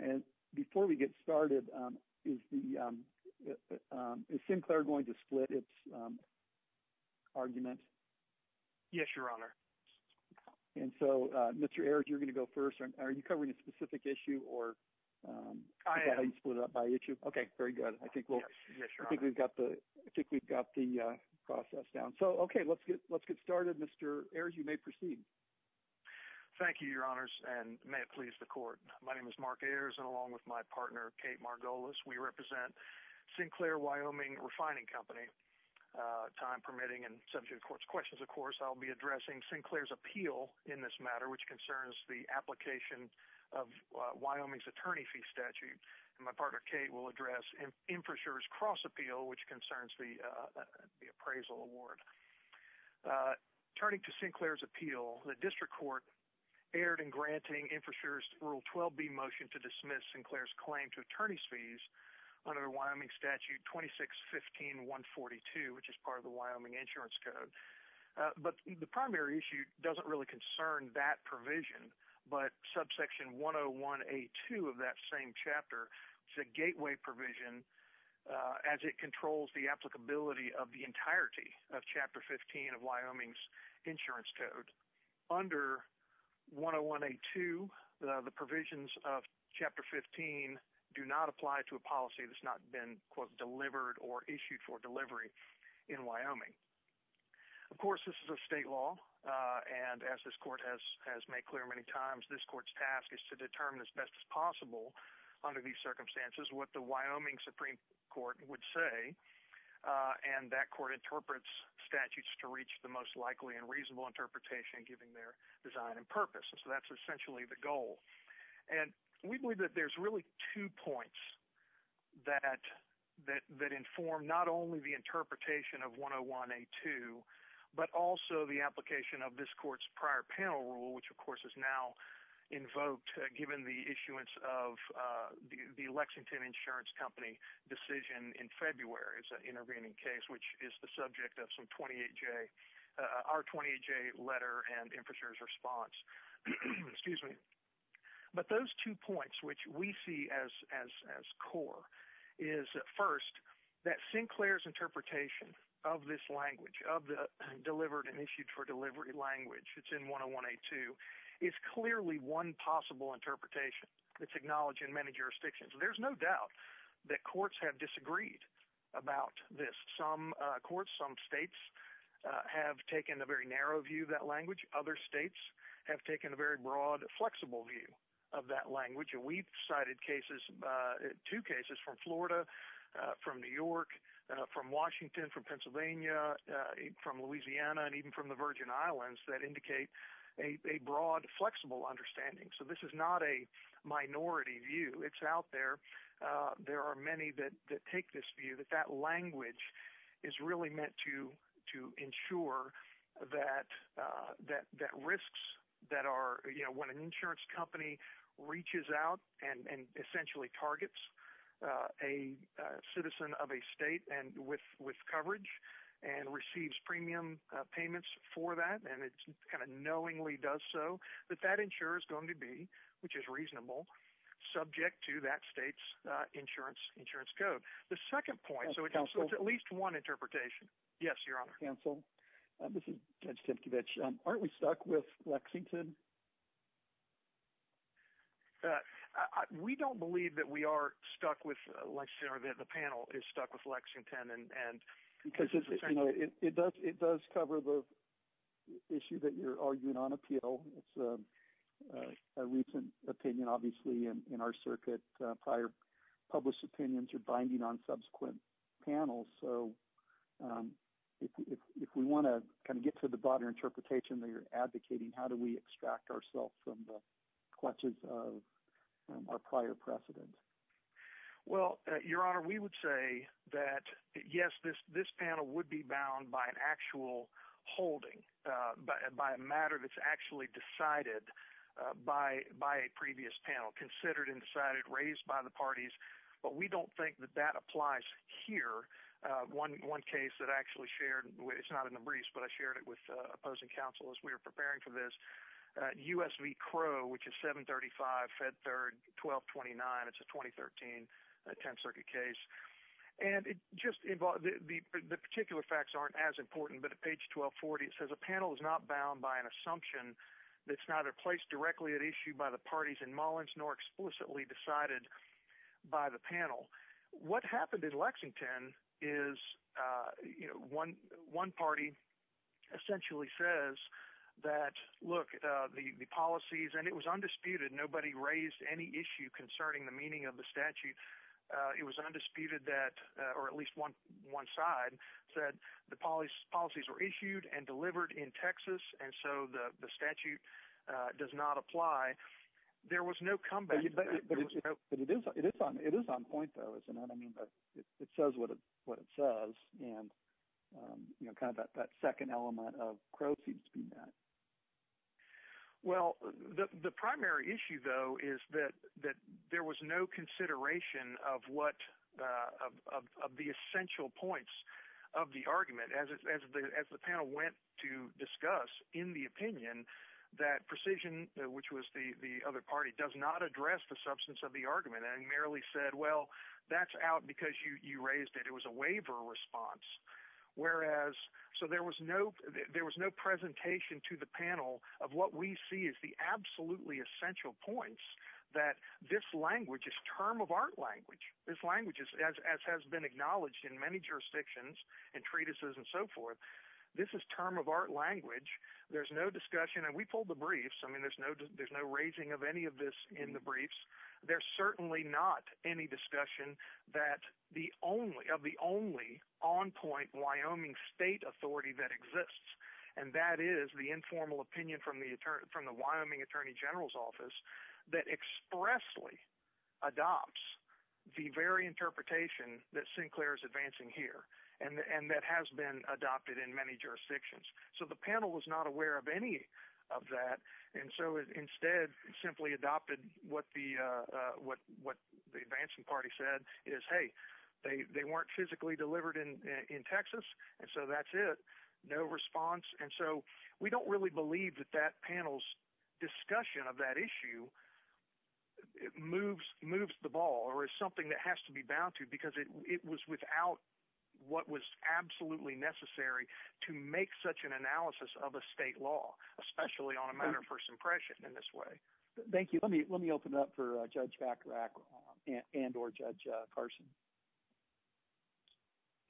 And before we get started, is Sinclair going to split its argument? Yes, Your Honor. And so, Mr. Ayers, you're going to go first. Are you covering a specific issue, or... I am. Okay, very good. I think we've got the process down. So, okay, let's get started. Mr. Ayers, you may proceed. Thank you, Your Honors, and may it please the Court. My name is Mark Ayers, and along with my partner, Kate Margolis, we represent Sinclair Wyoming Refining Company. Time permitting and subject to the Court's questions, of course, I'll be addressing Sinclair's appeal in this matter, which concerns the application of Wyoming's attorney fee statute. And my partner, Kate, will address Infrassure's cross-appeal, which concerns the appraisal award. Turning to Sinclair's appeal, the District Court erred in granting Infrassure's Rule 12b motion to dismiss Sinclair's claim to attorney's fees under Wyoming Statute 2615-142, which is part of the Wyoming Insurance Code. But the primary issue doesn't really concern that provision, but subsection 101A2 of that same chapter is a gateway provision as it controls the applicability of the entirety of Chapter 15 of Wyoming's Insurance Code. Under 101A2, the provisions of Chapter 15 do not apply to a policy that's not been, quote, delivered or issued for delivery in Wyoming. Of course, this is a state law, and as this Court has made clear many times, this Court's task is to determine as best as possible under these circumstances what the Wyoming Supreme Court would say. And that Court interprets statutes to reach the most likely and reasonable interpretation, giving their design and purpose. So that's essentially the goal. And we believe that there's really two points that inform not only the interpretation of 101A2, but also the application of this Court's prior panel rule, which, of course, is now invoked, given the issuance of the Lexington Insurance Company decision in February's intervening case, which is the subject of some 28-J, our 28-J letter and infrastructure response. Excuse me. But those two points which we see as core is, first, that Sinclair's interpretation of this language, of the delivered and issued for delivery language that's in 101A2, is clearly one possible interpretation that's acknowledged in many jurisdictions. There's no doubt that courts have disagreed about this. Some courts, some states have taken a very narrow view of that language. Other states have taken a very broad, flexible view of that language. And we've cited two cases from Florida, from New York, from Washington, from Pennsylvania, from Louisiana, and even from the Virgin Islands that indicate a broad, flexible understanding. So this is not a minority view. It's out there. There are many that take this view that that language is really meant to ensure that risks that are, you know, when an insurance company reaches out and essentially targets a citizen of a state with coverage and receives premium payments for that, and it kind of knowingly does so, that that insurer is going to be, which is reasonable, subject to that state's insurance code. The second point, so it's at least one interpretation. Yes, Your Honor. Counsel, this is Judge Timkevich. Aren't we stuck with Lexington? We don't believe that we are stuck with Lexington or that the panel is stuck with Lexington. It does cover the issue that you're arguing on appeal. It's a recent opinion, obviously, in our circuit. Prior published opinions are binding on subsequent panels. So if we want to kind of get to the broader interpretation that you're advocating, how do we extract ourselves from the clutches of our prior precedent? Well, Your Honor, we would say that, yes, this panel would be bound by an actual holding, by a matter that's actually decided by a previous panel, considered and decided, raised by the parties. But we don't think that that applies here. One case that I actually shared, it's not in the briefs, but I shared it with opposing counsel as we were preparing for this, U.S. v. Crow, which is 735, Fed Third, 1229. It's a 2013 Tenth Circuit case. And the particular facts aren't as important, but at page 1240 it says, a panel is not bound by an assumption that's neither placed directly at issue by the parties in Mullins nor explicitly decided by the panel. What happened in Lexington is one party essentially says that, look, the policies, and it was undisputed, nobody raised any issue concerning the meaning of the statute. It was undisputed that, or at least one side said the policies were issued and delivered in Texas, and so the statute does not apply. There was no comeback. But it is on point, though, is what I mean by it says what it says, and kind of that second element of Crow seems to be that. Well, the primary issue, though, is that there was no consideration of what – of the essential points of the argument. As the panel went to discuss in the opinion, that precision, which was the other party, it does not address the substance of the argument. And it merely said, well, that's out because you raised it. It was a waiver response. So there was no presentation to the panel of what we see as the absolutely essential points that this language is term of art language. This language, as has been acknowledged in many jurisdictions and treatises and so forth, this is term of art language. There's no discussion, and we pulled the briefs. I mean, there's no raising of any of this in the briefs. There's certainly not any discussion of the only on-point Wyoming state authority that exists, and that is the informal opinion from the Wyoming Attorney General's Office that expressly adopts the very interpretation that Sinclair is advancing here and that has been adopted in many jurisdictions. So the panel was not aware of any of that, and so instead simply adopted what the advancing party said is, hey, they weren't physically delivered in Texas, and so that's it, no response. And so we don't really believe that that panel's discussion of that issue moves the ball or is something that has to be bound to because it was without what was absolutely necessary to make such an analysis of a state law, especially on a matter of first impression in this way. Thank you. Let me open it up for Judge Bacharach and or Judge Carson.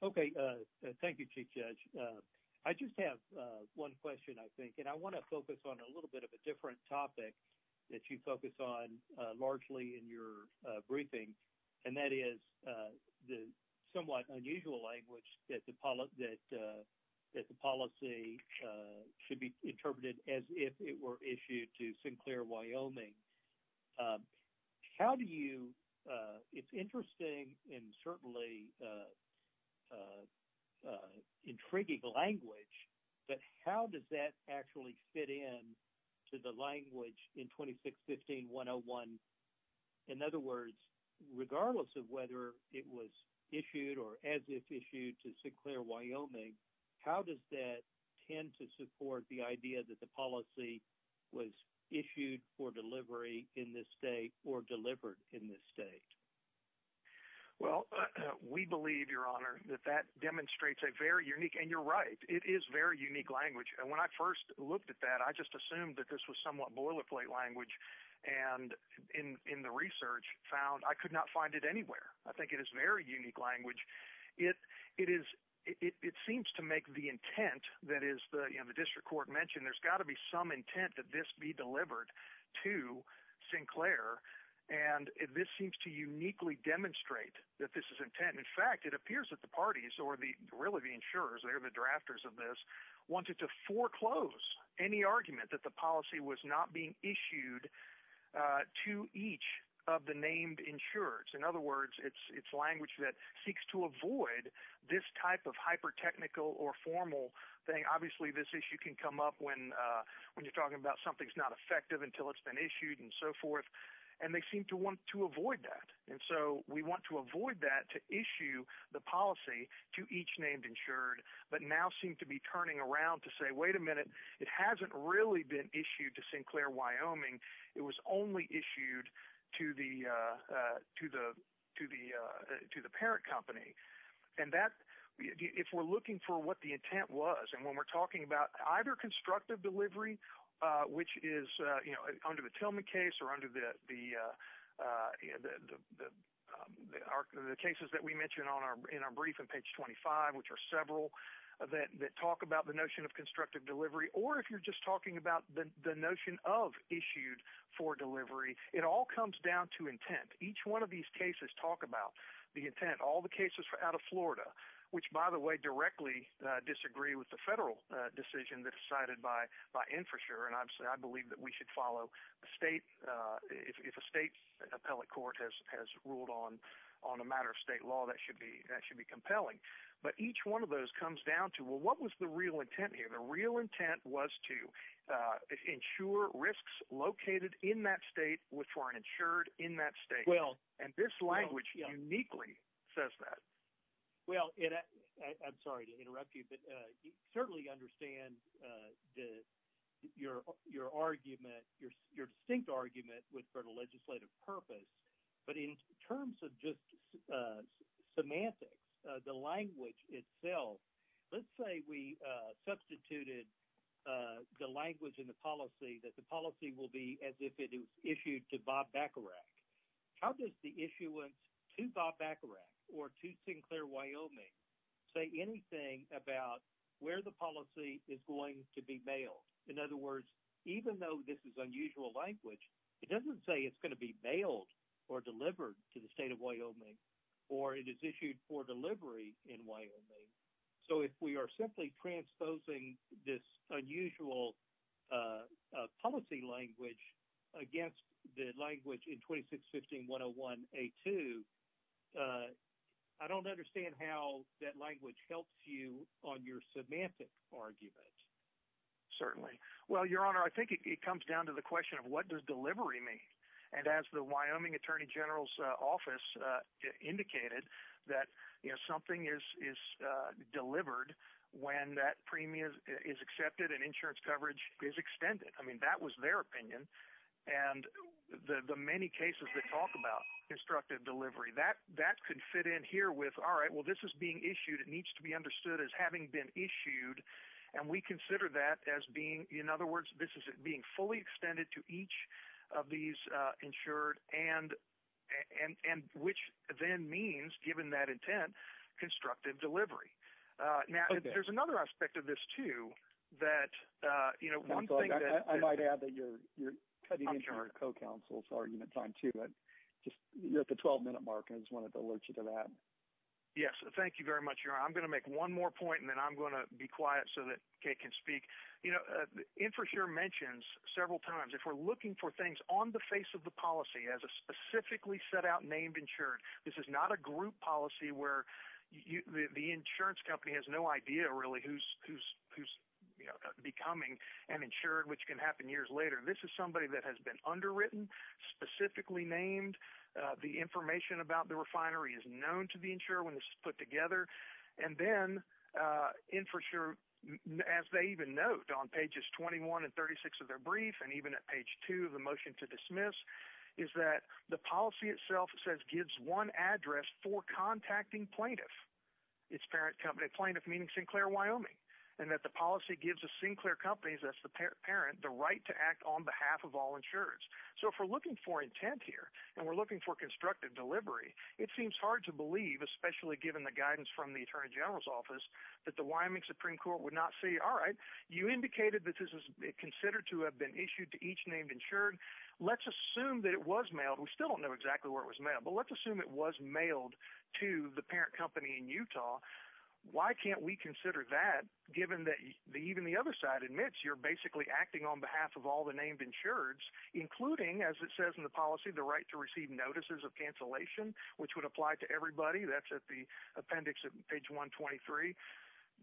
Okay. Thank you, Chief Judge. I just have one question, I think, and I want to focus on a little bit of a different topic that you focus on largely in your briefing, and that is the somewhat unusual language that the policy should be interpreted as if it were issued to Sinclair, Wyoming. How do you – it's interesting and certainly intriguing language, but how does that actually fit in to the language in 2615-101? In other words, regardless of whether it was issued or as if issued to Sinclair, Wyoming, how does that tend to support the idea that the policy was issued for delivery in this state or delivered in this state? Well, we believe, Your Honor, that that demonstrates a very unique – and you're right, it is very unique language. And when I first looked at that, I just assumed that this was somewhat boilerplate language and in the research found I could not find it anywhere. I think it is very unique language. It is – it seems to make the intent that is the district court mentioned. There's got to be some intent that this be delivered to Sinclair, and this seems to uniquely demonstrate that this is intent. In fact, it appears that the parties or really the insurers, they're the drafters of this, wanted to foreclose any argument that the policy was not being issued to each of the named insurers. In other words, it's language that seeks to avoid this type of hyper-technical or formal thing. Obviously, this issue can come up when you're talking about something's not effective until it's been issued and so forth, and they seem to want to avoid that. And so we want to avoid that to issue the policy to each named insured, but now seem to be turning around to say, wait a minute, it hasn't really been issued to Sinclair, Wyoming. It was only issued to the parent company. And that – if we're looking for what the intent was, and when we're talking about either constructive delivery, which is under the Tillman case or under the cases that we mentioned in our brief on page 25, which are several that talk about the notion of constructive delivery, or if you're just talking about the notion of issued for delivery, it all comes down to intent. Each one of these cases talk about the intent. All the cases out of Florida, which, by the way, directly disagree with the federal decision that's cited by InfraSure, and I believe that we should follow the state – if a state appellate court has ruled on a matter of state law, that should be compelling. But each one of those comes down to, well, what was the real intent here? The real intent was to insure risks located in that state with foreign insured in that state. And this language uniquely says that. Well, and I'm sorry to interrupt you, but you certainly understand your argument, your distinct argument for the legislative purpose, but in terms of just semantics, the language itself, let's say we substituted the language in the policy that the policy will be as if it was issued to Bob Bacharach. How does the issuance to Bob Bacharach or to Sinclair Wyoming say anything about where the policy is going to be mailed? In other words, even though this is unusual language, it doesn't say it's going to be mailed or delivered to the state of Wyoming or it is issued for delivery in Wyoming. So if we are simply transposing this unusual policy language against the language in 2615-101A2, I don't understand how that language helps you on your semantic argument. Certainly. Well, Your Honor, I think it comes down to the question of what does delivery mean? And as the Wyoming attorney general's office indicated that something is delivered when that premium is accepted and insurance coverage is extended. I mean, that was their opinion. And the many cases that talk about instructive delivery, that could fit in here with, all right, well, this is being issued. It needs to be understood as having been issued. And we consider that as being, in other words, this is being fully extended to each of these insured and which then means, given that intent, constructive delivery. Now, there's another aspect of this, too, that, you know, one thing that — I might add that you're cutting into your co-counsel's argument time, too. But you're at the 12-minute mark, and I just wanted to alert you to that. Yes. Thank you very much, Your Honor. I'm going to make one more point, and then I'm going to be quiet so that Kate can speak. You know, the infrastructure mentions several times, if we're looking for things on the face of the policy as a specifically set out named insured, this is not a group policy where the insurance company has no idea, really, who's becoming an insured, which can happen years later. This is somebody that has been underwritten, specifically named. The information about the refinery is known to the insurer when this is put together. And then, infrastructure, as they even note on pages 21 and 36 of their brief, and even at page 2 of the motion to dismiss, is that the policy itself says, gives one address for contacting plaintiff, its parent company, plaintiff meaning Sinclair, Wyoming, and that the policy gives the Sinclair companies, that's the parent, the right to act on behalf of all insurers. So if we're looking for intent here, and we're looking for constructive delivery, it seems hard to believe, especially given the guidance from the Attorney General's office, that the Wyoming Supreme Court would not say, all right, you indicated that this is considered to have been issued to each named insured. Let's assume that it was mailed. We still don't know exactly where it was mailed. But let's assume it was mailed to the parent company in Utah. Why can't we consider that, given that even the other side admits you're basically acting on behalf of all the named insureds, including, as it says in the policy, the right to receive notices of cancellation, which would apply to everybody. That's at the appendix at page 123.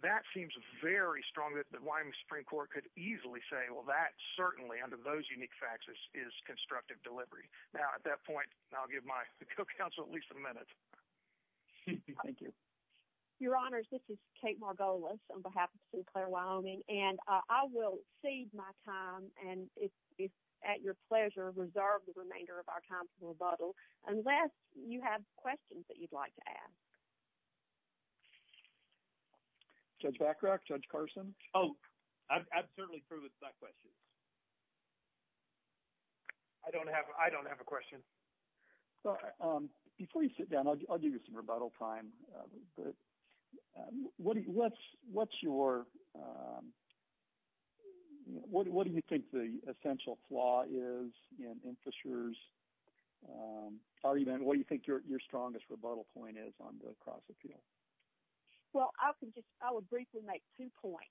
That seems very strong that the Wyoming Supreme Court could easily say, well, that certainly, under those unique faxes, is constructive delivery. Now, at that point, I'll give my co-counsel at least a minute. Thank you. Your Honors, this is Kate Margolis on behalf of Sinclair Wyoming. And I will cede my time and, if at your pleasure, reserve the remainder of our time for rebuttal unless you have questions that you'd like to ask. Judge Backrock? Judge Carson? Oh, I'd certainly approve of that question. I don't have a question. Before you sit down, I'll give you some rebuttal time. What's your – what do you think the essential flaw is in the insurer's argument? What do you think your strongest rebuttal point is on the cross-appeal? Well, I would briefly make two points.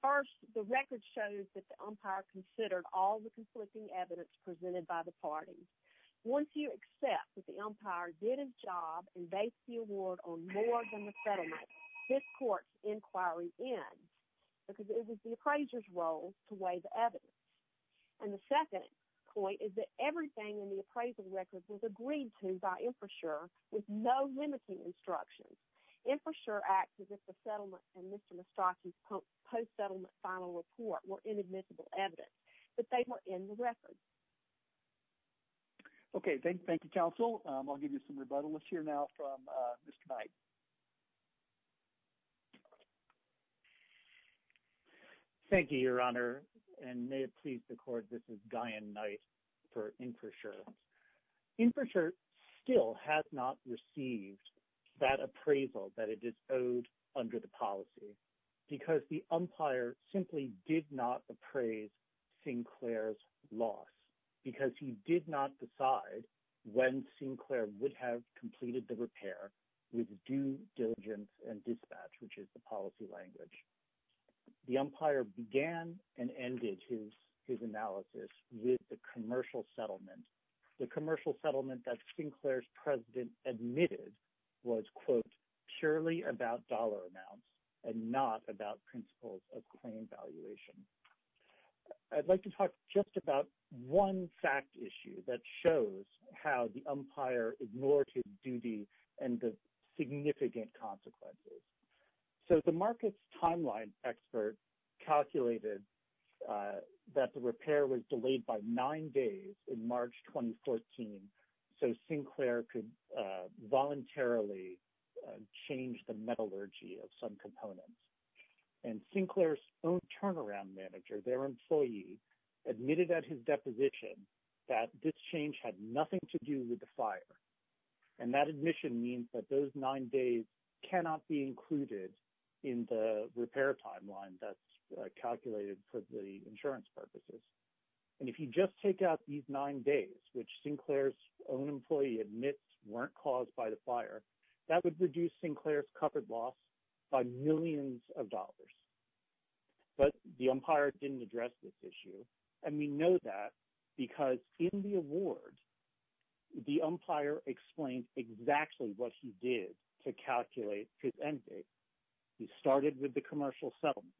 First, the record shows that the umpire considered all the conflicting evidence presented by the parties. Once you accept that the umpire did his job and based the award on more than the settlement, this court's inquiry ends because it was the appraiser's role to weigh the evidence. And the second point is that everything in the appraisal record was agreed to by infrastructure with no limiting instructions. Infrastructure acts as if the settlement and Mr. Mastracchi's post-settlement final report were inadmissible evidence, but they were in the record. Okay, thank you, counsel. I'll give you some rebuttal. Let's hear now from Mr. Knight. Thank you, Your Honor, and may it please the court, this is Diane Knight for Infrastructure. Infrastructure still has not received that appraisal that it is owed under the policy because the umpire simply did not appraise Sinclair's loss because he did not decide when Sinclair would have completed the repair with due diligence and dispatch, which is the policy language. The umpire began and ended his analysis with the commercial settlement. The commercial settlement that Sinclair's president admitted was, quote, purely about dollar amounts and not about principles of claim valuation. I'd like to talk just about one fact issue that shows how the umpire ignored his duty and the significant consequences. So the markets timeline expert calculated that the repair was delayed by nine days in March 2014, so Sinclair could voluntarily change the metallurgy of some components. And Sinclair's own turnaround manager, their employee, admitted at his deposition that this change had nothing to do with the fire. And that admission means that those nine days cannot be included in the repair timeline that's calculated for the insurance purposes. And if you just take out these nine days, which Sinclair's own employee admits weren't caused by the fire, that would reduce Sinclair's covered loss by millions of dollars. But the umpire didn't address this issue. And we know that because in the award, the umpire explained exactly what he did to calculate his end date. He started with the commercial settlement.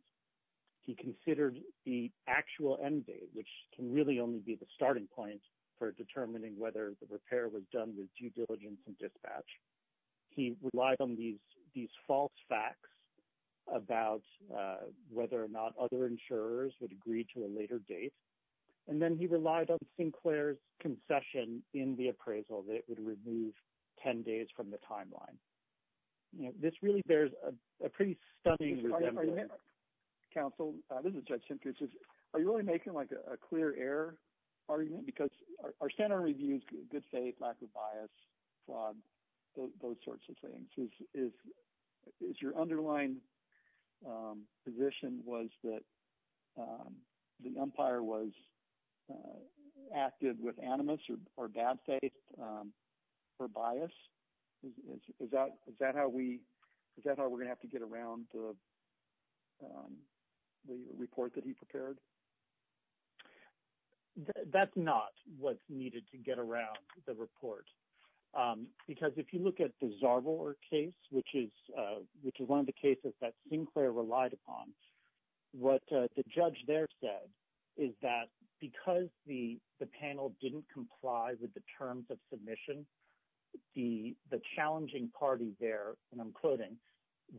He considered the actual end date, which can really only be the starting point for determining whether the repair was done with due diligence and dispatch. He relied on these false facts about whether or not other insurers would agree to a later date. And then he relied on Sinclair's concession in the appraisal that it would remove 10 days from the timeline. This really bears a pretty stunning resemblance. Counsel, this is Judge Simkins. Are you really making like a clear error argument? Because our standard review is good faith, lack of bias, fraud, those sorts of things. Is your underlying position was that the umpire was active with animus or bad faith or bias? Is that how we're going to have to get around the report that he prepared? That's not what's needed to get around the report. Because if you look at the Zarvor case, which is one of the cases that Sinclair relied upon, what the judge there said is that because the panel didn't comply with the terms of submission, the challenging party there, and I'm quoting,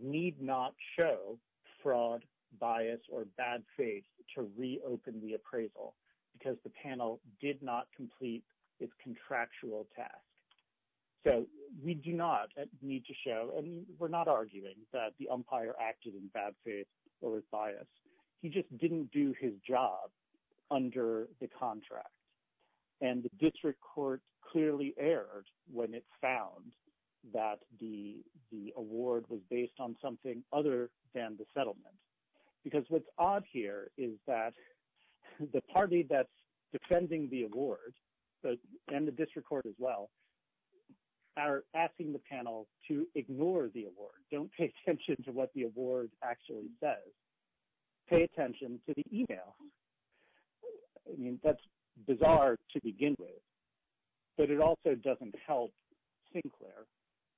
need not show fraud, bias, or bad faith to reopen the appraisal because the panel did not complete its contractual task. So we do not need to show, and we're not arguing that the umpire acted in bad faith or with bias. He just didn't do his job under the contract. And the district court clearly erred when it found that the award was based on something other than the settlement. Because what's odd here is that the party that's defending the award, and the district court as well, are asking the panel to ignore the award. Don't pay attention to what the award actually says. Pay attention to the email. I mean, that's bizarre to begin with. But it also doesn't help Sinclair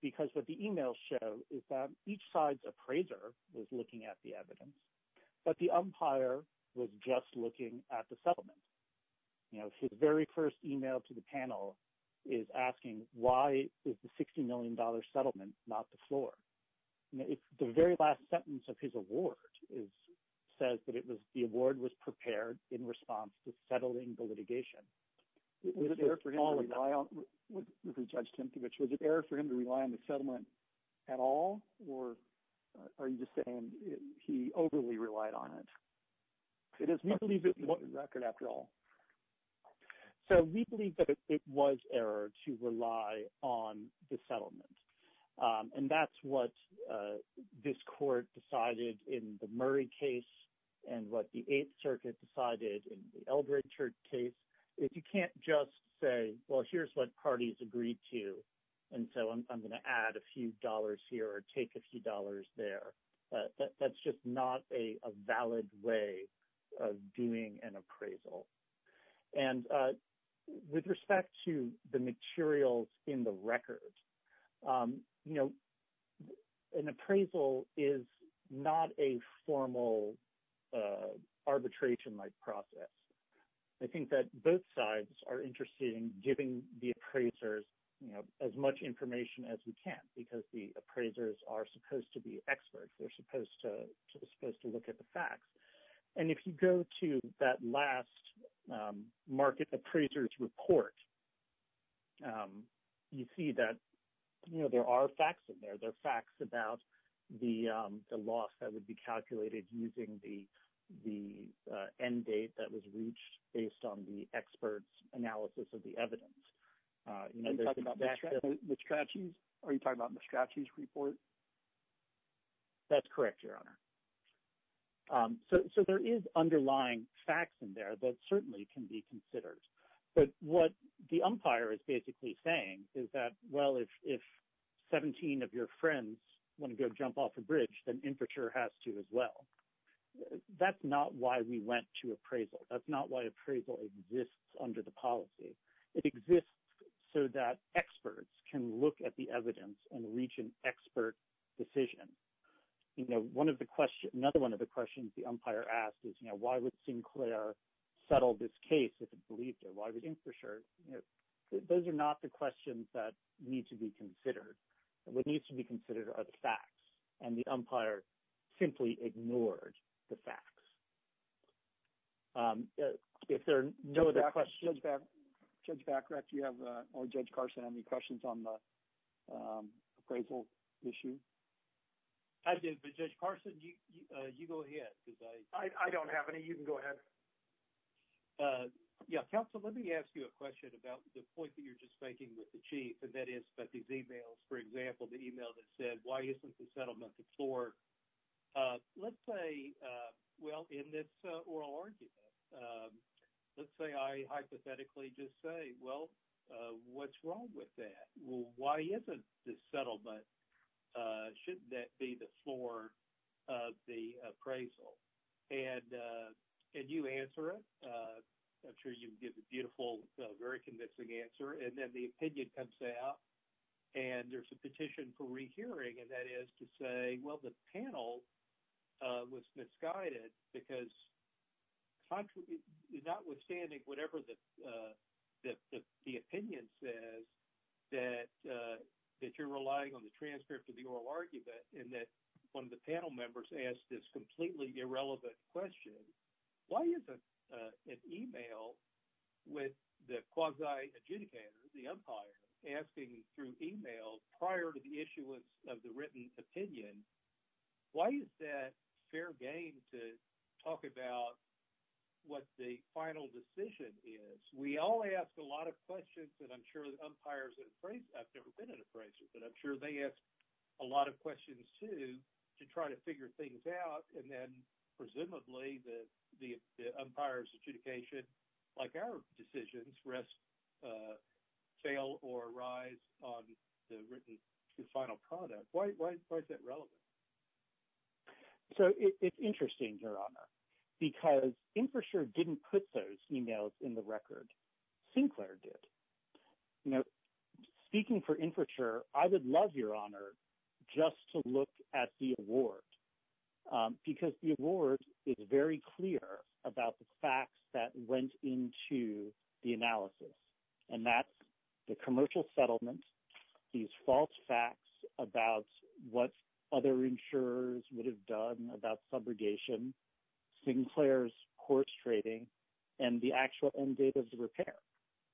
because what the emails show is that each side's appraiser was looking at the evidence, but the umpire was just looking at the settlement. His very first email to the panel is asking, why is the $60 million settlement not the floor? The very last sentence of his award says that the award was prepared in response to settling the litigation. Was it error for him to rely on the settlement at all? Or are you just saying he overly relied on it? Because we believe it was record after all. So we believe that it was error to rely on the settlement. And that's what this court decided in the Murray case and what the Eighth Circuit decided in the Eldredger case. If you can't just say, well, here's what parties agreed to. And so I'm going to add a few dollars here or take a few dollars there. That's just not a valid way of doing an appraisal. And with respect to the materials in the record, an appraisal is not a formal arbitration-like process. I think that both sides are interested in giving the appraisers as much information as we can because the appraisers are supposed to be experts. They're supposed to look at the facts. And if you go to that last market appraiser's report, you see that there are facts in there. There are facts about the loss that would be calculated using the end date that was reached based on the expert's analysis of the evidence. Are you talking about Mastracci's report? That's correct, Your Honor. So there is underlying facts in there that certainly can be considered. But what the umpire is basically saying is that, well, if 17 of your friends want to go jump off a bridge, then infrastructure has to as well. That's not why we went to appraisal. That's not why appraisal exists under the policy. It exists so that experts can look at the evidence and reach an expert decision. You know, another one of the questions the umpire asked is, you know, why would Sinclair settle this case if it believed it? Why would infrastructure? Those are not the questions that need to be considered. What needs to be considered are the facts. And the umpire simply ignored the facts. If there are no other questions… Judge Bacarach, do you have, or Judge Carson, any questions on the appraisal issue? I do, but Judge Carson, you go ahead because I… I don't have any. You can go ahead. Yeah, counsel, let me ask you a question about the point that you're just making with the chief, and that is about these emails. For example, the email that said, why isn't the settlement the floor? Let's say, well, in this oral argument, let's say I hypothetically just say, well, what's wrong with that? Why isn't the settlement, shouldn't that be the floor of the appraisal? And you answer it. I'm sure you can give a beautiful, very convincing answer. And then the opinion comes out, and there's a petition for rehearing. And that is to say, well, the panel was misguided because notwithstanding whatever the opinion says that you're relying on the transcript of the oral argument and that one of the panel members asked this completely irrelevant question, why isn't an email with the quasi-adjudicator, the umpire, asking through email prior to the issuance of the written opinion, why is that fair game to talk about what the final decision is? We all ask a lot of questions, and I'm sure the umpires at appraisals… I've never been an appraiser, but I'm sure they ask a lot of questions too to try to figure things out. And then presumably the umpire's adjudication, like our decisions, rests fail or arise on the written final product. Why is that relevant? So it's interesting, Your Honor, because InfraSure didn't put those emails in the record. Sinclair did. Speaking for InfraSure, I would love, Your Honor, just to look at the award because the award is very clear about the facts that went into the analysis, and that's the commercial settlement, these false facts about what other insurers would have done about subrogation, Sinclair's court trading, and the actual end date of the repair.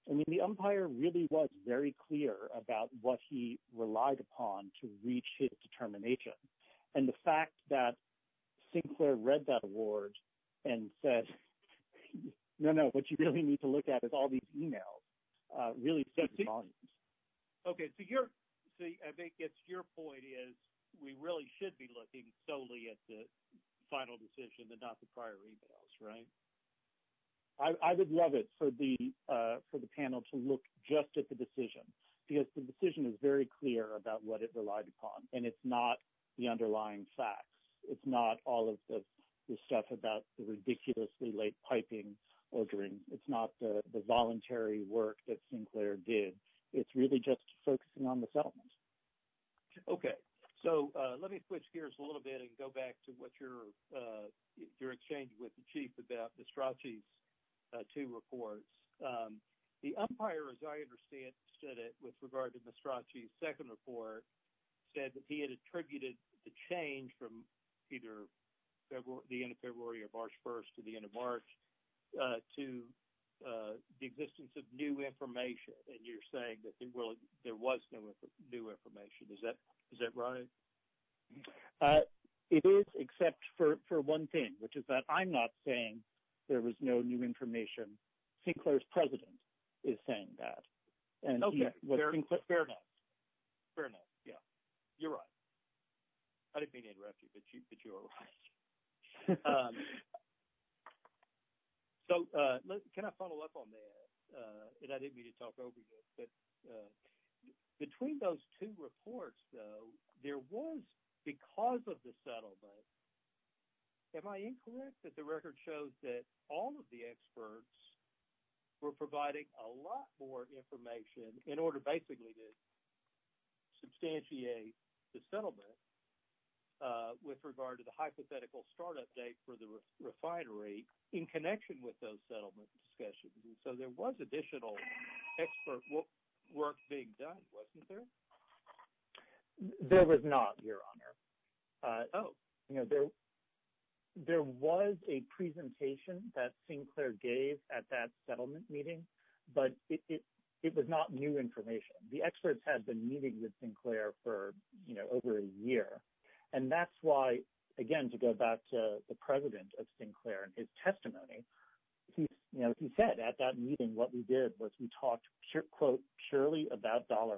I mean, the umpire really was very clear about what he relied upon to reach his determination, and the fact that Sinclair read that award and said, no, no, what you really need to look at is all these emails, really set the volumes. Okay, so I think your point is we really should be looking solely at the final decision and not the prior emails, right? I would love it for the panel to look just at the decision because the decision is very clear about what it relied upon, and it's not the underlying facts. It's not all of the stuff about the ridiculously late piping ordering. It's not the voluntary work that Sinclair did. It's really just focusing on the settlement. Okay, so let me switch gears a little bit and go back to what you're exchanging with the chief about Mastracci's two reports. The umpire, as I understand it with regard to Mastracci's second report, said that he had attributed the change from either the end of February or March 1st to the end of March to the existence of new information, and you're saying that there was no new information. Is that right? It is except for one thing, which is that I'm not saying there was no new information. Sinclair's president is saying that. Okay, fair enough. Fair enough, yeah. You're right. I didn't mean to interrupt you, but you're right. So can I follow up on that? And I didn't mean to talk over you, but between those two reports, though, there was, because of the settlement, am I incorrect that the record shows that all of the experts were providing a lot more information in order basically to substantiate the settlement with regard to the hypothetical start-up date for the refinery in connection with those settlement discussions? So there was additional expert work being done, wasn't there? There was not, Your Honor. There was a presentation that Sinclair gave at that settlement meeting, but it was not new information. The experts had been meeting with Sinclair for over a year, and that's why, again, to go back to the president of Sinclair and his testimony, he said at that meeting what we did was we talked, quote, purely about dollar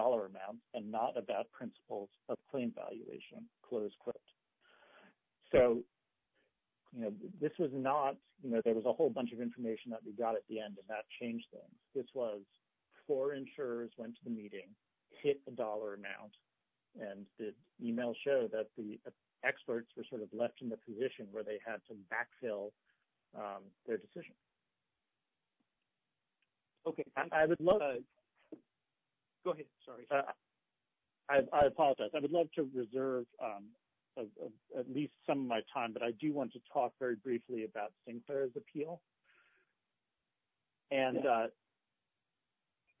amounts and not about principles of claim valuation, close quote. So this was not, you know, there was a whole bunch of information that we got at the end, and that changed things. This was four insurers went to the meeting, hit a dollar amount, and the email showed that the experts were sort of left in the position where they had to backfill their decision. Okay. Go ahead. Sorry. I apologize. I would love to reserve at least some of my time, but I do want to talk very briefly about Sinclair's appeal. And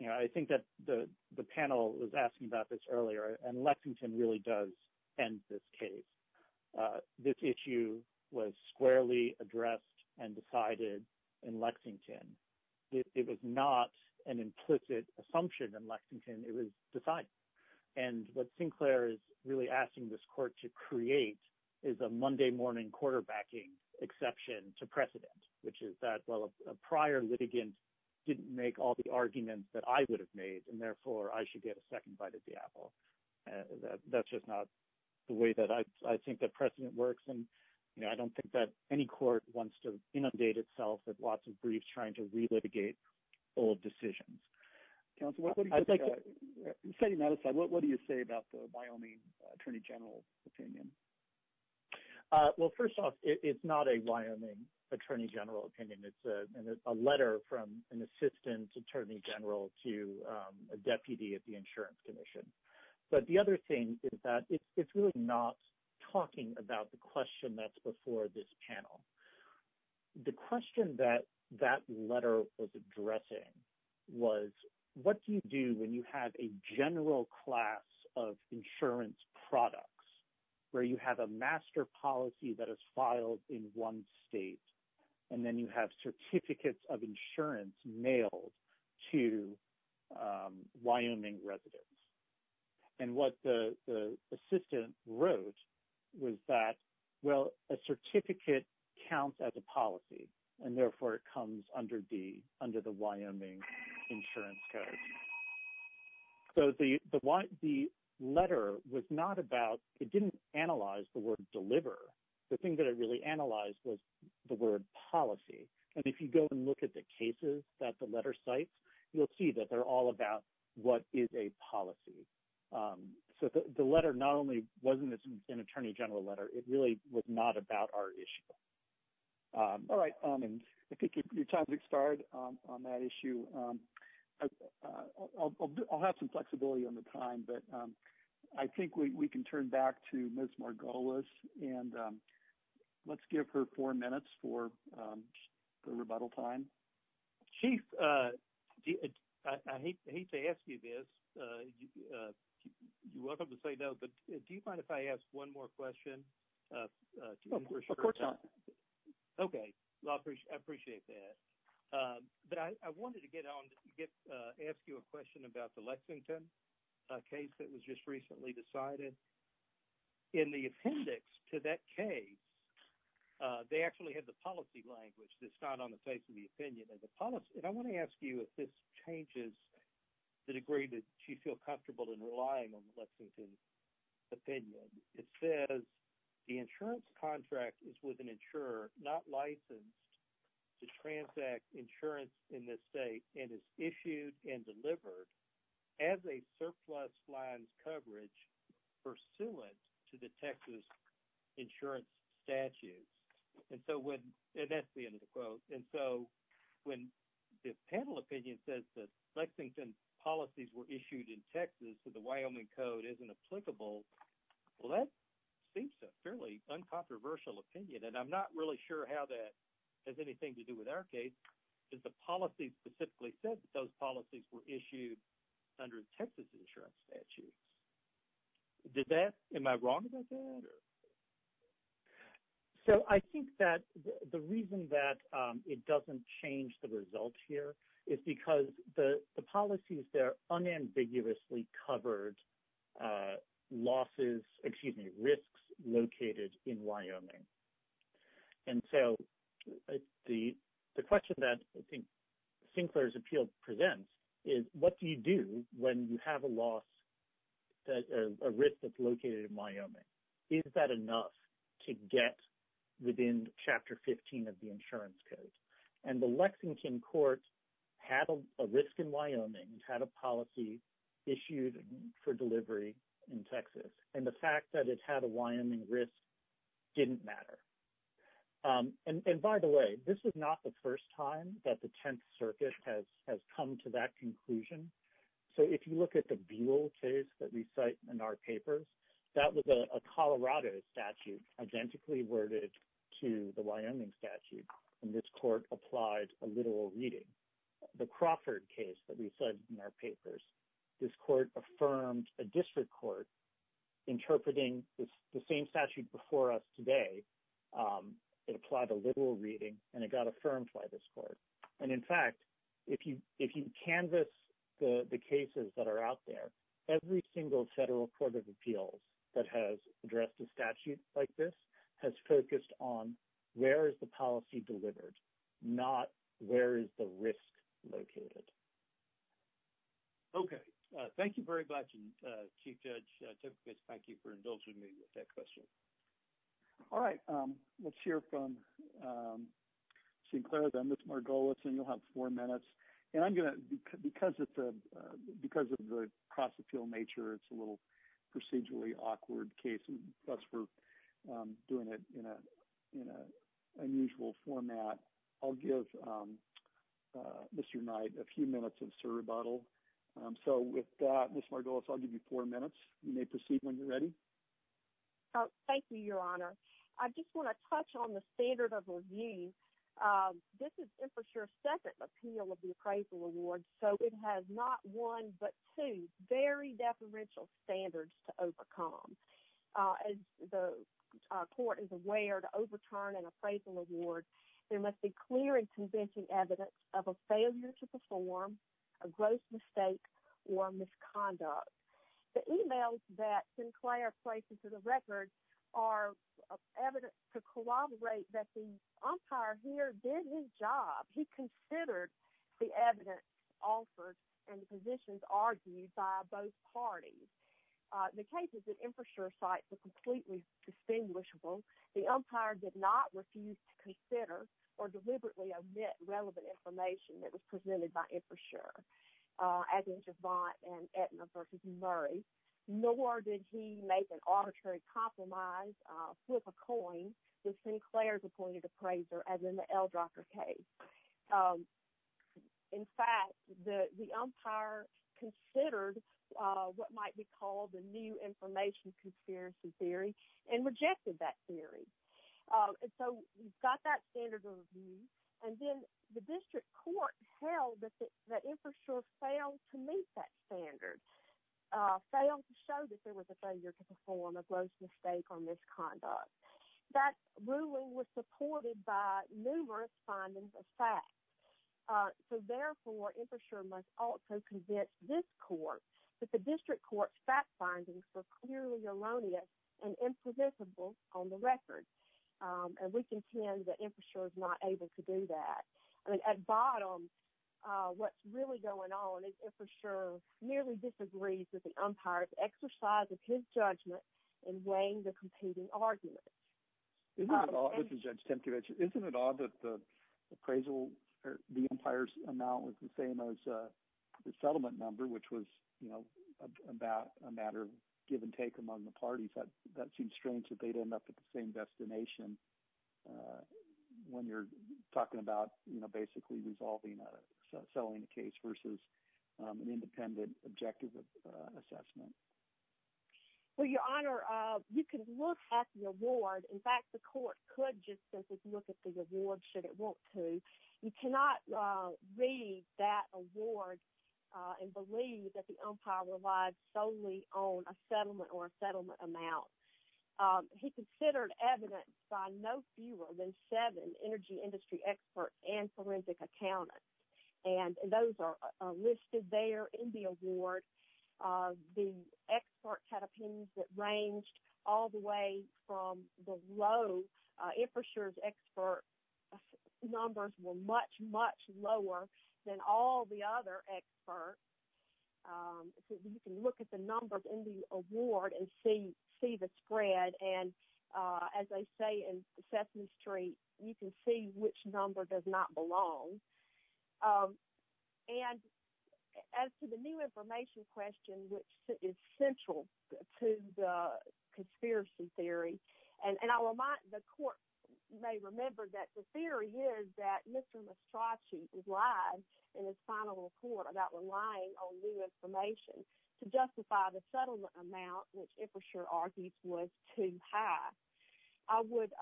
I think that the panel was asking about this earlier, and Lexington really does end this case. This issue was squarely addressed and decided in Lexington. It was not an implicit assumption in Lexington. It was decided. And what Sinclair is really asking this court to create is a Monday morning quarterbacking exception to precedent, which is that, well, a prior litigant didn't make all the arguments that I would have made, and therefore I should get a second bite at the apple. That's just not the way that I think that precedent works, and I don't think that any court wants to inundate itself with lots of briefs trying to relitigate old decisions. Setting that aside, what do you say about the Wyoming Attorney General opinion? Well, first off, it's not a Wyoming Attorney General opinion. It's a letter from an assistant attorney general to a deputy at the Insurance Commission. But the other thing is that it's really not talking about the question that's before this panel. The question that that letter was addressing was, what do you do when you have a general class of insurance products, where you have a master policy that is filed in one state, and then you have certificates of insurance mailed to Wyoming residents? And what the assistant wrote was that, well, a certificate counts as a policy, and therefore it comes under the Wyoming Insurance Code. So the letter was not about – it didn't analyze the word deliver. The thing that it really analyzed was the word policy. And if you go and look at the cases that the letter cites, you'll see that they're all about what is a policy. So the letter not only wasn't an attorney general letter. It really was not about our issue. All right. I think your time has expired on that issue. I'll have some flexibility on the time, but I think we can turn back to Ms. Margolis, and let's give her four minutes for the rebuttal time. Chief, I hate to ask you this. You're welcome to say no, but do you mind if I ask one more question? Of course not. Okay. I appreciate that. But I wanted to get on – ask you a question about the Lexington case that was just recently decided. In the appendix to that case, they actually had the policy language that's not on the face of the opinion. And the policy – and I want to ask you if this changes the degree that you feel comfortable in relying on the Lexington opinion. It says, the insurance contract is with an insurer not licensed to transact insurance in this state and is issued and delivered as a surplus lines coverage pursuant to the Texas insurance statutes. And so when – and that's the end of the quote. And so when the panel opinion says that Lexington policies were issued in Texas so the Wyoming Code isn't applicable, well, that seems a fairly uncontroversial opinion, and I'm not really sure how that has anything to do with our case. It's the policy specifically says that those policies were issued under Texas insurance statutes. Did that – am I wrong about that? So I think that the reason that it doesn't change the result here is because the policies there unambiguously covered losses – excuse me, risks located in Wyoming. And so the question that I think Sinclair's appeal presents is what do you do when you have a loss – a risk that's located in Wyoming? Is that enough to get within Chapter 15 of the insurance code? And the Lexington court had a risk in Wyoming, had a policy issued for delivery in Texas, and the fact that it had a Wyoming risk didn't matter. And by the way, this is not the first time that the Tenth Circuit has come to that conclusion. So if you look at the Buell case that we cite in our papers, that was a Colorado statute identically worded to the Wyoming statute, and this court applied a literal reading. The Crawford case that we cite in our papers, this court affirmed a district court interpreting the same statute before us today. It applied a literal reading, and it got affirmed by this court. And, in fact, if you canvass the cases that are out there, every single federal court of appeals that has addressed a statute like this has focused on where is the policy delivered, not where is the risk located. Okay. Thank you very much, and Chief Judge, thank you for indulging me with that question. All right. Let's hear from Sinclair, then Ms. Margolis, and you'll have four minutes. And I'm going to – because of the cross-appeal nature, it's a little procedurally awkward case, and thus we're doing it in an unusual format, I'll give Mr. Knight a few minutes of surrebuttal. So with that, Ms. Margolis, I'll give you four minutes. You may proceed when you're ready. Thank you, Your Honor. I just want to touch on the standard of review. This is Infra's second appeal of the appraisal award, so it has not one but two very deferential standards to overcome. As the court is aware, to overturn an appraisal award, there must be clear and convincing evidence of a failure to perform, a gross mistake, or misconduct. The e-mails that Sinclair places to the record are evidence to corroborate that the umpire here did his job. He considered the evidence offered and the positions argued by both parties. The cases at Infra's site were completely distinguishable. The umpire did not refuse to consider or deliberately omit relevant information that was presented by Infra's juror, as in Javant and Aetna v. Murray, nor did he make an arbitrary compromise, flip a coin, with Sinclair's appointed appraiser, as in the Eldrocker case. In fact, the umpire considered what might be called the new information conspiracy theory and rejected that theory. So he got that standard of review, and then the district court held that Infra sure failed to meet that standard, failed to show that there was a failure to perform, a gross mistake, or misconduct. That ruling was supported by numerous findings of fact. So therefore, Infra sure must also convince this court that the district court's fact findings were clearly erroneous and imprevisible on the record. And we contend that Infra sure is not able to do that. At bottom, what's really going on is Infra sure nearly disagrees with the umpire's exercise of his judgment in weighing the competing arguments. Isn't it odd that the appraisal – the umpire's amount was the same as the settlement number, which was a matter of give and take among the parties? That seems strange that they'd end up at the same destination when you're talking about basically resolving a – selling a case versus an independent objective of assessment. Well, Your Honor, you can look at the award. In fact, the court could just simply look at the award should it want to. You cannot read that award and believe that the umpire relied solely on a settlement or a settlement amount. He considered evidence by no fewer than seven energy industry experts and forensic accountants, and those are listed there in the award. The experts had opinions that ranged all the way from the low. Infra sure's expert numbers were much, much lower than all the other experts. You can look at the numbers in the award and see the spread. And as they say in Sesame Street, you can see which number does not belong. And as to the new information question, which is central to the conspiracy theory – and the court may remember that the theory is that Mr. Mastracci lied in his final report about relying on new information to justify the settlement amount, which Infra sure argues was too high. I would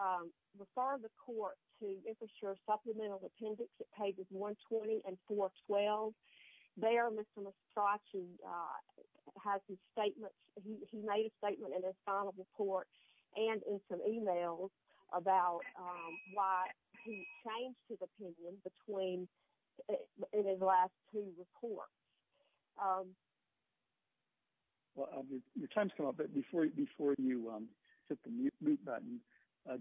refer the court to Infra sure's supplemental appendix at pages 120 and 412. There, Mr. Mastracci made a statement in his final report and in some emails about why he changed his opinion in his last two reports. Your time has come up, but before you hit the mute button,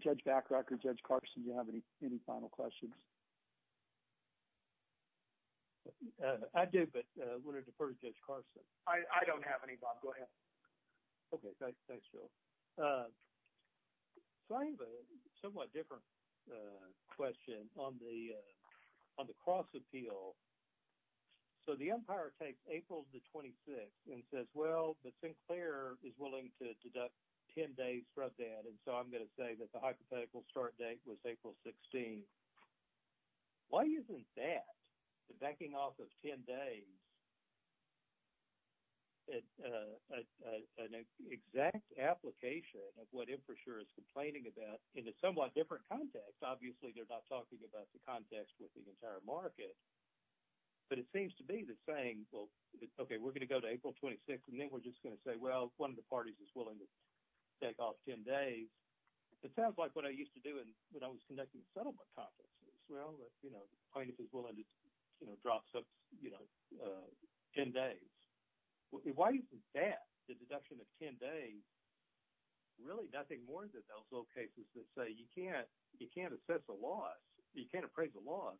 Judge Bachrach or Judge Carson, do you have any final questions? I do, but I wanted to defer to Judge Carson. I don't have any, Bob. Go ahead. Okay, thanks, Jill. So I have a somewhat different question on the cross-appeal. So the umpire takes April the 26th and says, well, but Sinclair is willing to deduct 10 days from that, and so I'm going to say that the hypothetical start date was April 16th. Why isn't that, the backing off of 10 days, an exact application of what Infra sure is complaining about in a somewhat different context? Obviously, they're not talking about the context with the entire market, but it seems to be that saying, well, okay, we're going to go to April 26th, and then we're just going to say, well, one of the parties is willing to take off 10 days. It sounds like what I used to do when I was conducting settlement conferences. Well, the plaintiff is willing to drop 10 days. Why isn't that, the deduction of 10 days, really nothing more than those old cases that say you can't assess a loss, you can't appraise a loss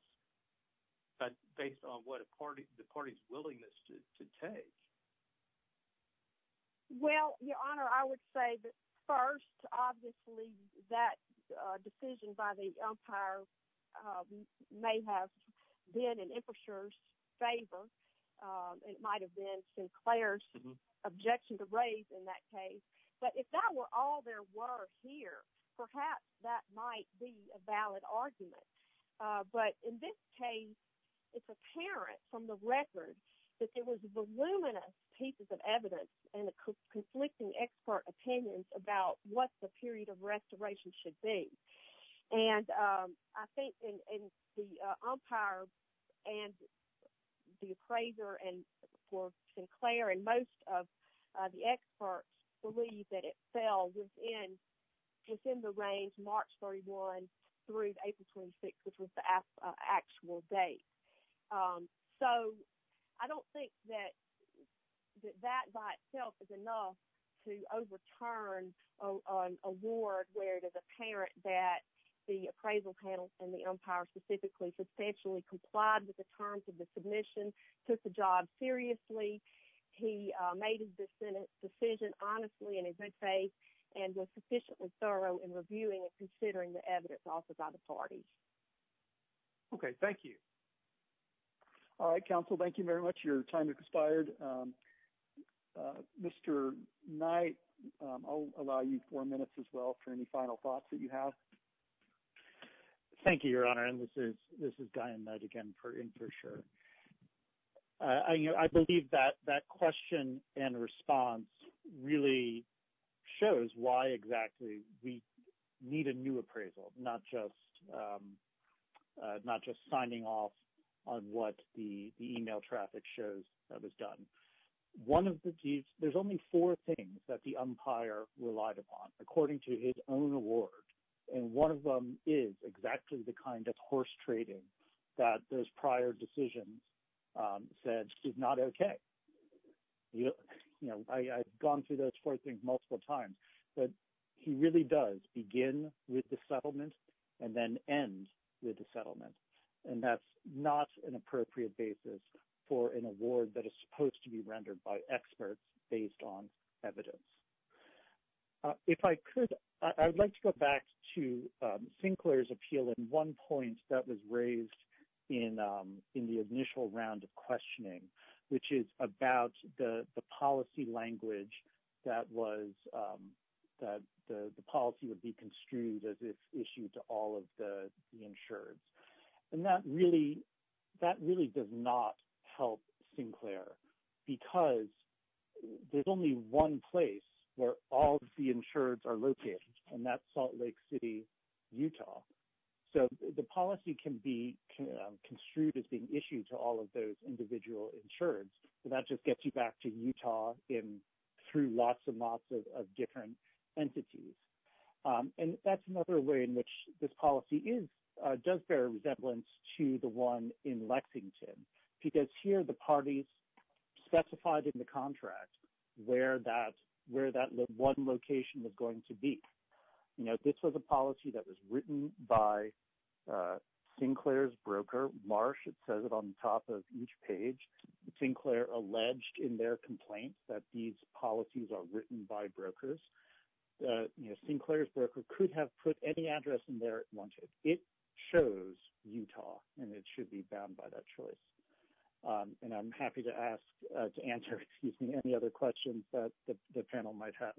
based on what the party's willingness to take? Well, Your Honor, I would say that first, obviously, that decision by the umpire may have been in Infra's favor. It might have been Sinclair's objection to raise in that case. But if that were all there were here, perhaps that might be a valid argument. But in this case, it's apparent from the record that there was voluminous pieces of evidence and conflicting expert opinions about what the period of restoration should be. And I think the umpire and the appraiser for Sinclair and most of the experts believe that it fell within the range March 31 through April 26, which was the actual date. So I don't think that that by itself is enough to overturn an award where it is apparent that the appraisal panel and the umpire specifically substantially complied with the terms of the submission, took the job seriously. He made his decision honestly and in good faith and was sufficiently thorough in reviewing and considering the evidence offered by the parties. Okay, thank you. All right, Counsel, thank you very much. Your time has expired. Mr. Knight, I'll allow you four minutes as well for any final thoughts that you have. Thank you, Your Honor, and this is Diane Knight again for InfraSure. I believe that that question and response really shows why exactly we need a new appraisal, not just signing off on what the email traffic shows that was done. There's only four things that the umpire relied upon according to his own award. And one of them is exactly the kind of horse trading that those prior decisions said is not okay. You know, I've gone through those four things multiple times, but he really does begin with the settlement and then end with the settlement. And that's not an appropriate basis for an award that is supposed to be rendered by experts based on evidence. If I could, I would like to go back to Sinclair's appeal in one point that was raised in the initial round of questioning, which is about the policy language that the policy would be construed as if issued to all of the insureds. And that really does not help Sinclair, because there's only one place where all of the insureds are located, and that's Salt Lake City, Utah. So the policy can be construed as being issued to all of those individual insureds, and that just gets you back to Utah through lots and lots of different entities. And that's another way in which this policy does bear a resemblance to the one in Lexington, because here the parties specified in the contract where that one location was going to be. You know, this was a policy that was written by Sinclair's broker, Marsh. It says it on the top of each page. Sinclair alleged in their complaint that these policies are written by brokers. Sinclair's broker could have put any address in there it wanted. It shows Utah, and it should be bound by that choice. And I'm happy to answer any other questions that the panel might have.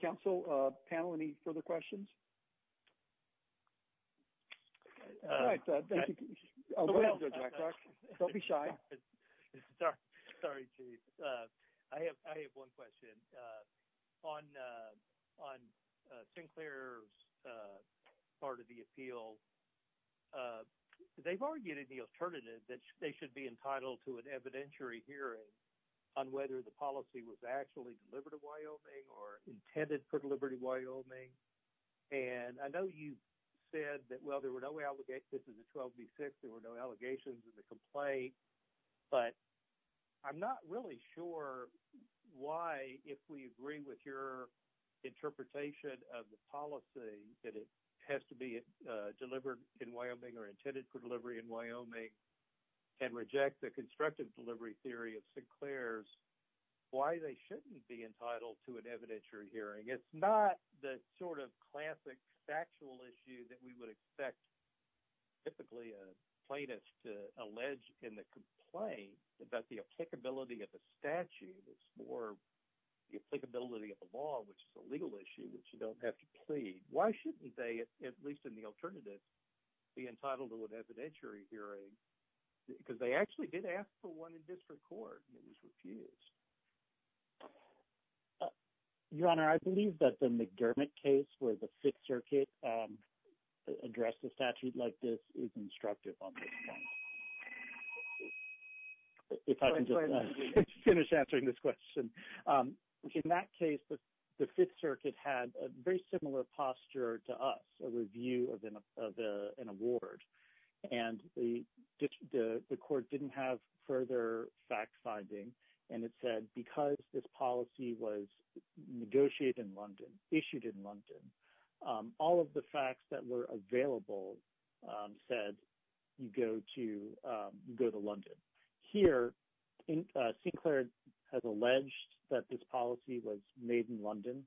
Council panel, any further questions? Don't be shy. Sorry, Chief. I have one question. On Sinclair's part of the appeal, they've argued in the alternative that they should be entitled to an evidentiary hearing on whether the policy was actually delivered to Wyoming or intended for delivery to Wyoming. And I know you said that, well, there were no allegations in the 12B6. There were no allegations in the complaint. But I'm not really sure why, if we agree with your interpretation of the policy, that it has to be delivered in Wyoming or intended for delivery in Wyoming, and reject the constructive delivery theory of Sinclair's, why they shouldn't be entitled to an evidentiary hearing. It's not the sort of classic factual issue that we would expect typically a plaintiff to allege in the complaint about the applicability of the statute. It's more the applicability of the law, which is a legal issue that you don't have to plead. Why shouldn't they, at least in the alternative, be entitled to an evidentiary hearing? Because they actually did ask for one in district court, and it was refused. Your Honor, I believe that the McDermott case where the Fifth Circuit addressed a statute like this is constructive on this point. If I can just finish answering this question. In that case, the Fifth Circuit had a very similar posture to us, a review of an award. And the court didn't have further fact-finding. And it said because this policy was negotiated in London, issued in London, all of the facts that were available said you go to London. Here, Sinclair has alleged that this policy was made in London,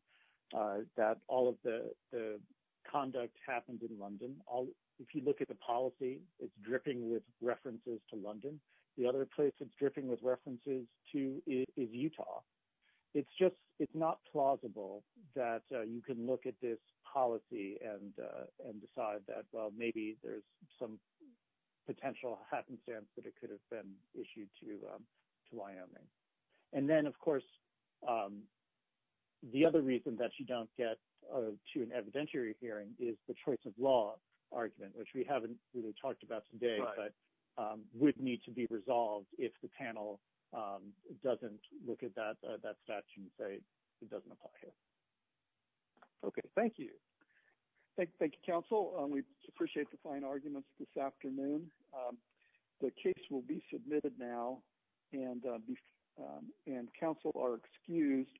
that all of the conduct happened in London. If you look at the policy, it's dripping with references to London. The other place it's dripping with references to is Utah. It's not plausible that you can look at this policy and decide that, well, maybe there's some potential happenstance that it could have been issued to Wyoming. And then, of course, the other reason that you don't get to an evidentiary hearing is the choice of law argument, which we haven't really talked about today, but would need to be resolved if the panel doesn't look at that statute and say it doesn't apply here. Okay. Thank you. Thank you, counsel. We appreciate the fine arguments this afternoon. The case will be submitted now, and counsel are excused.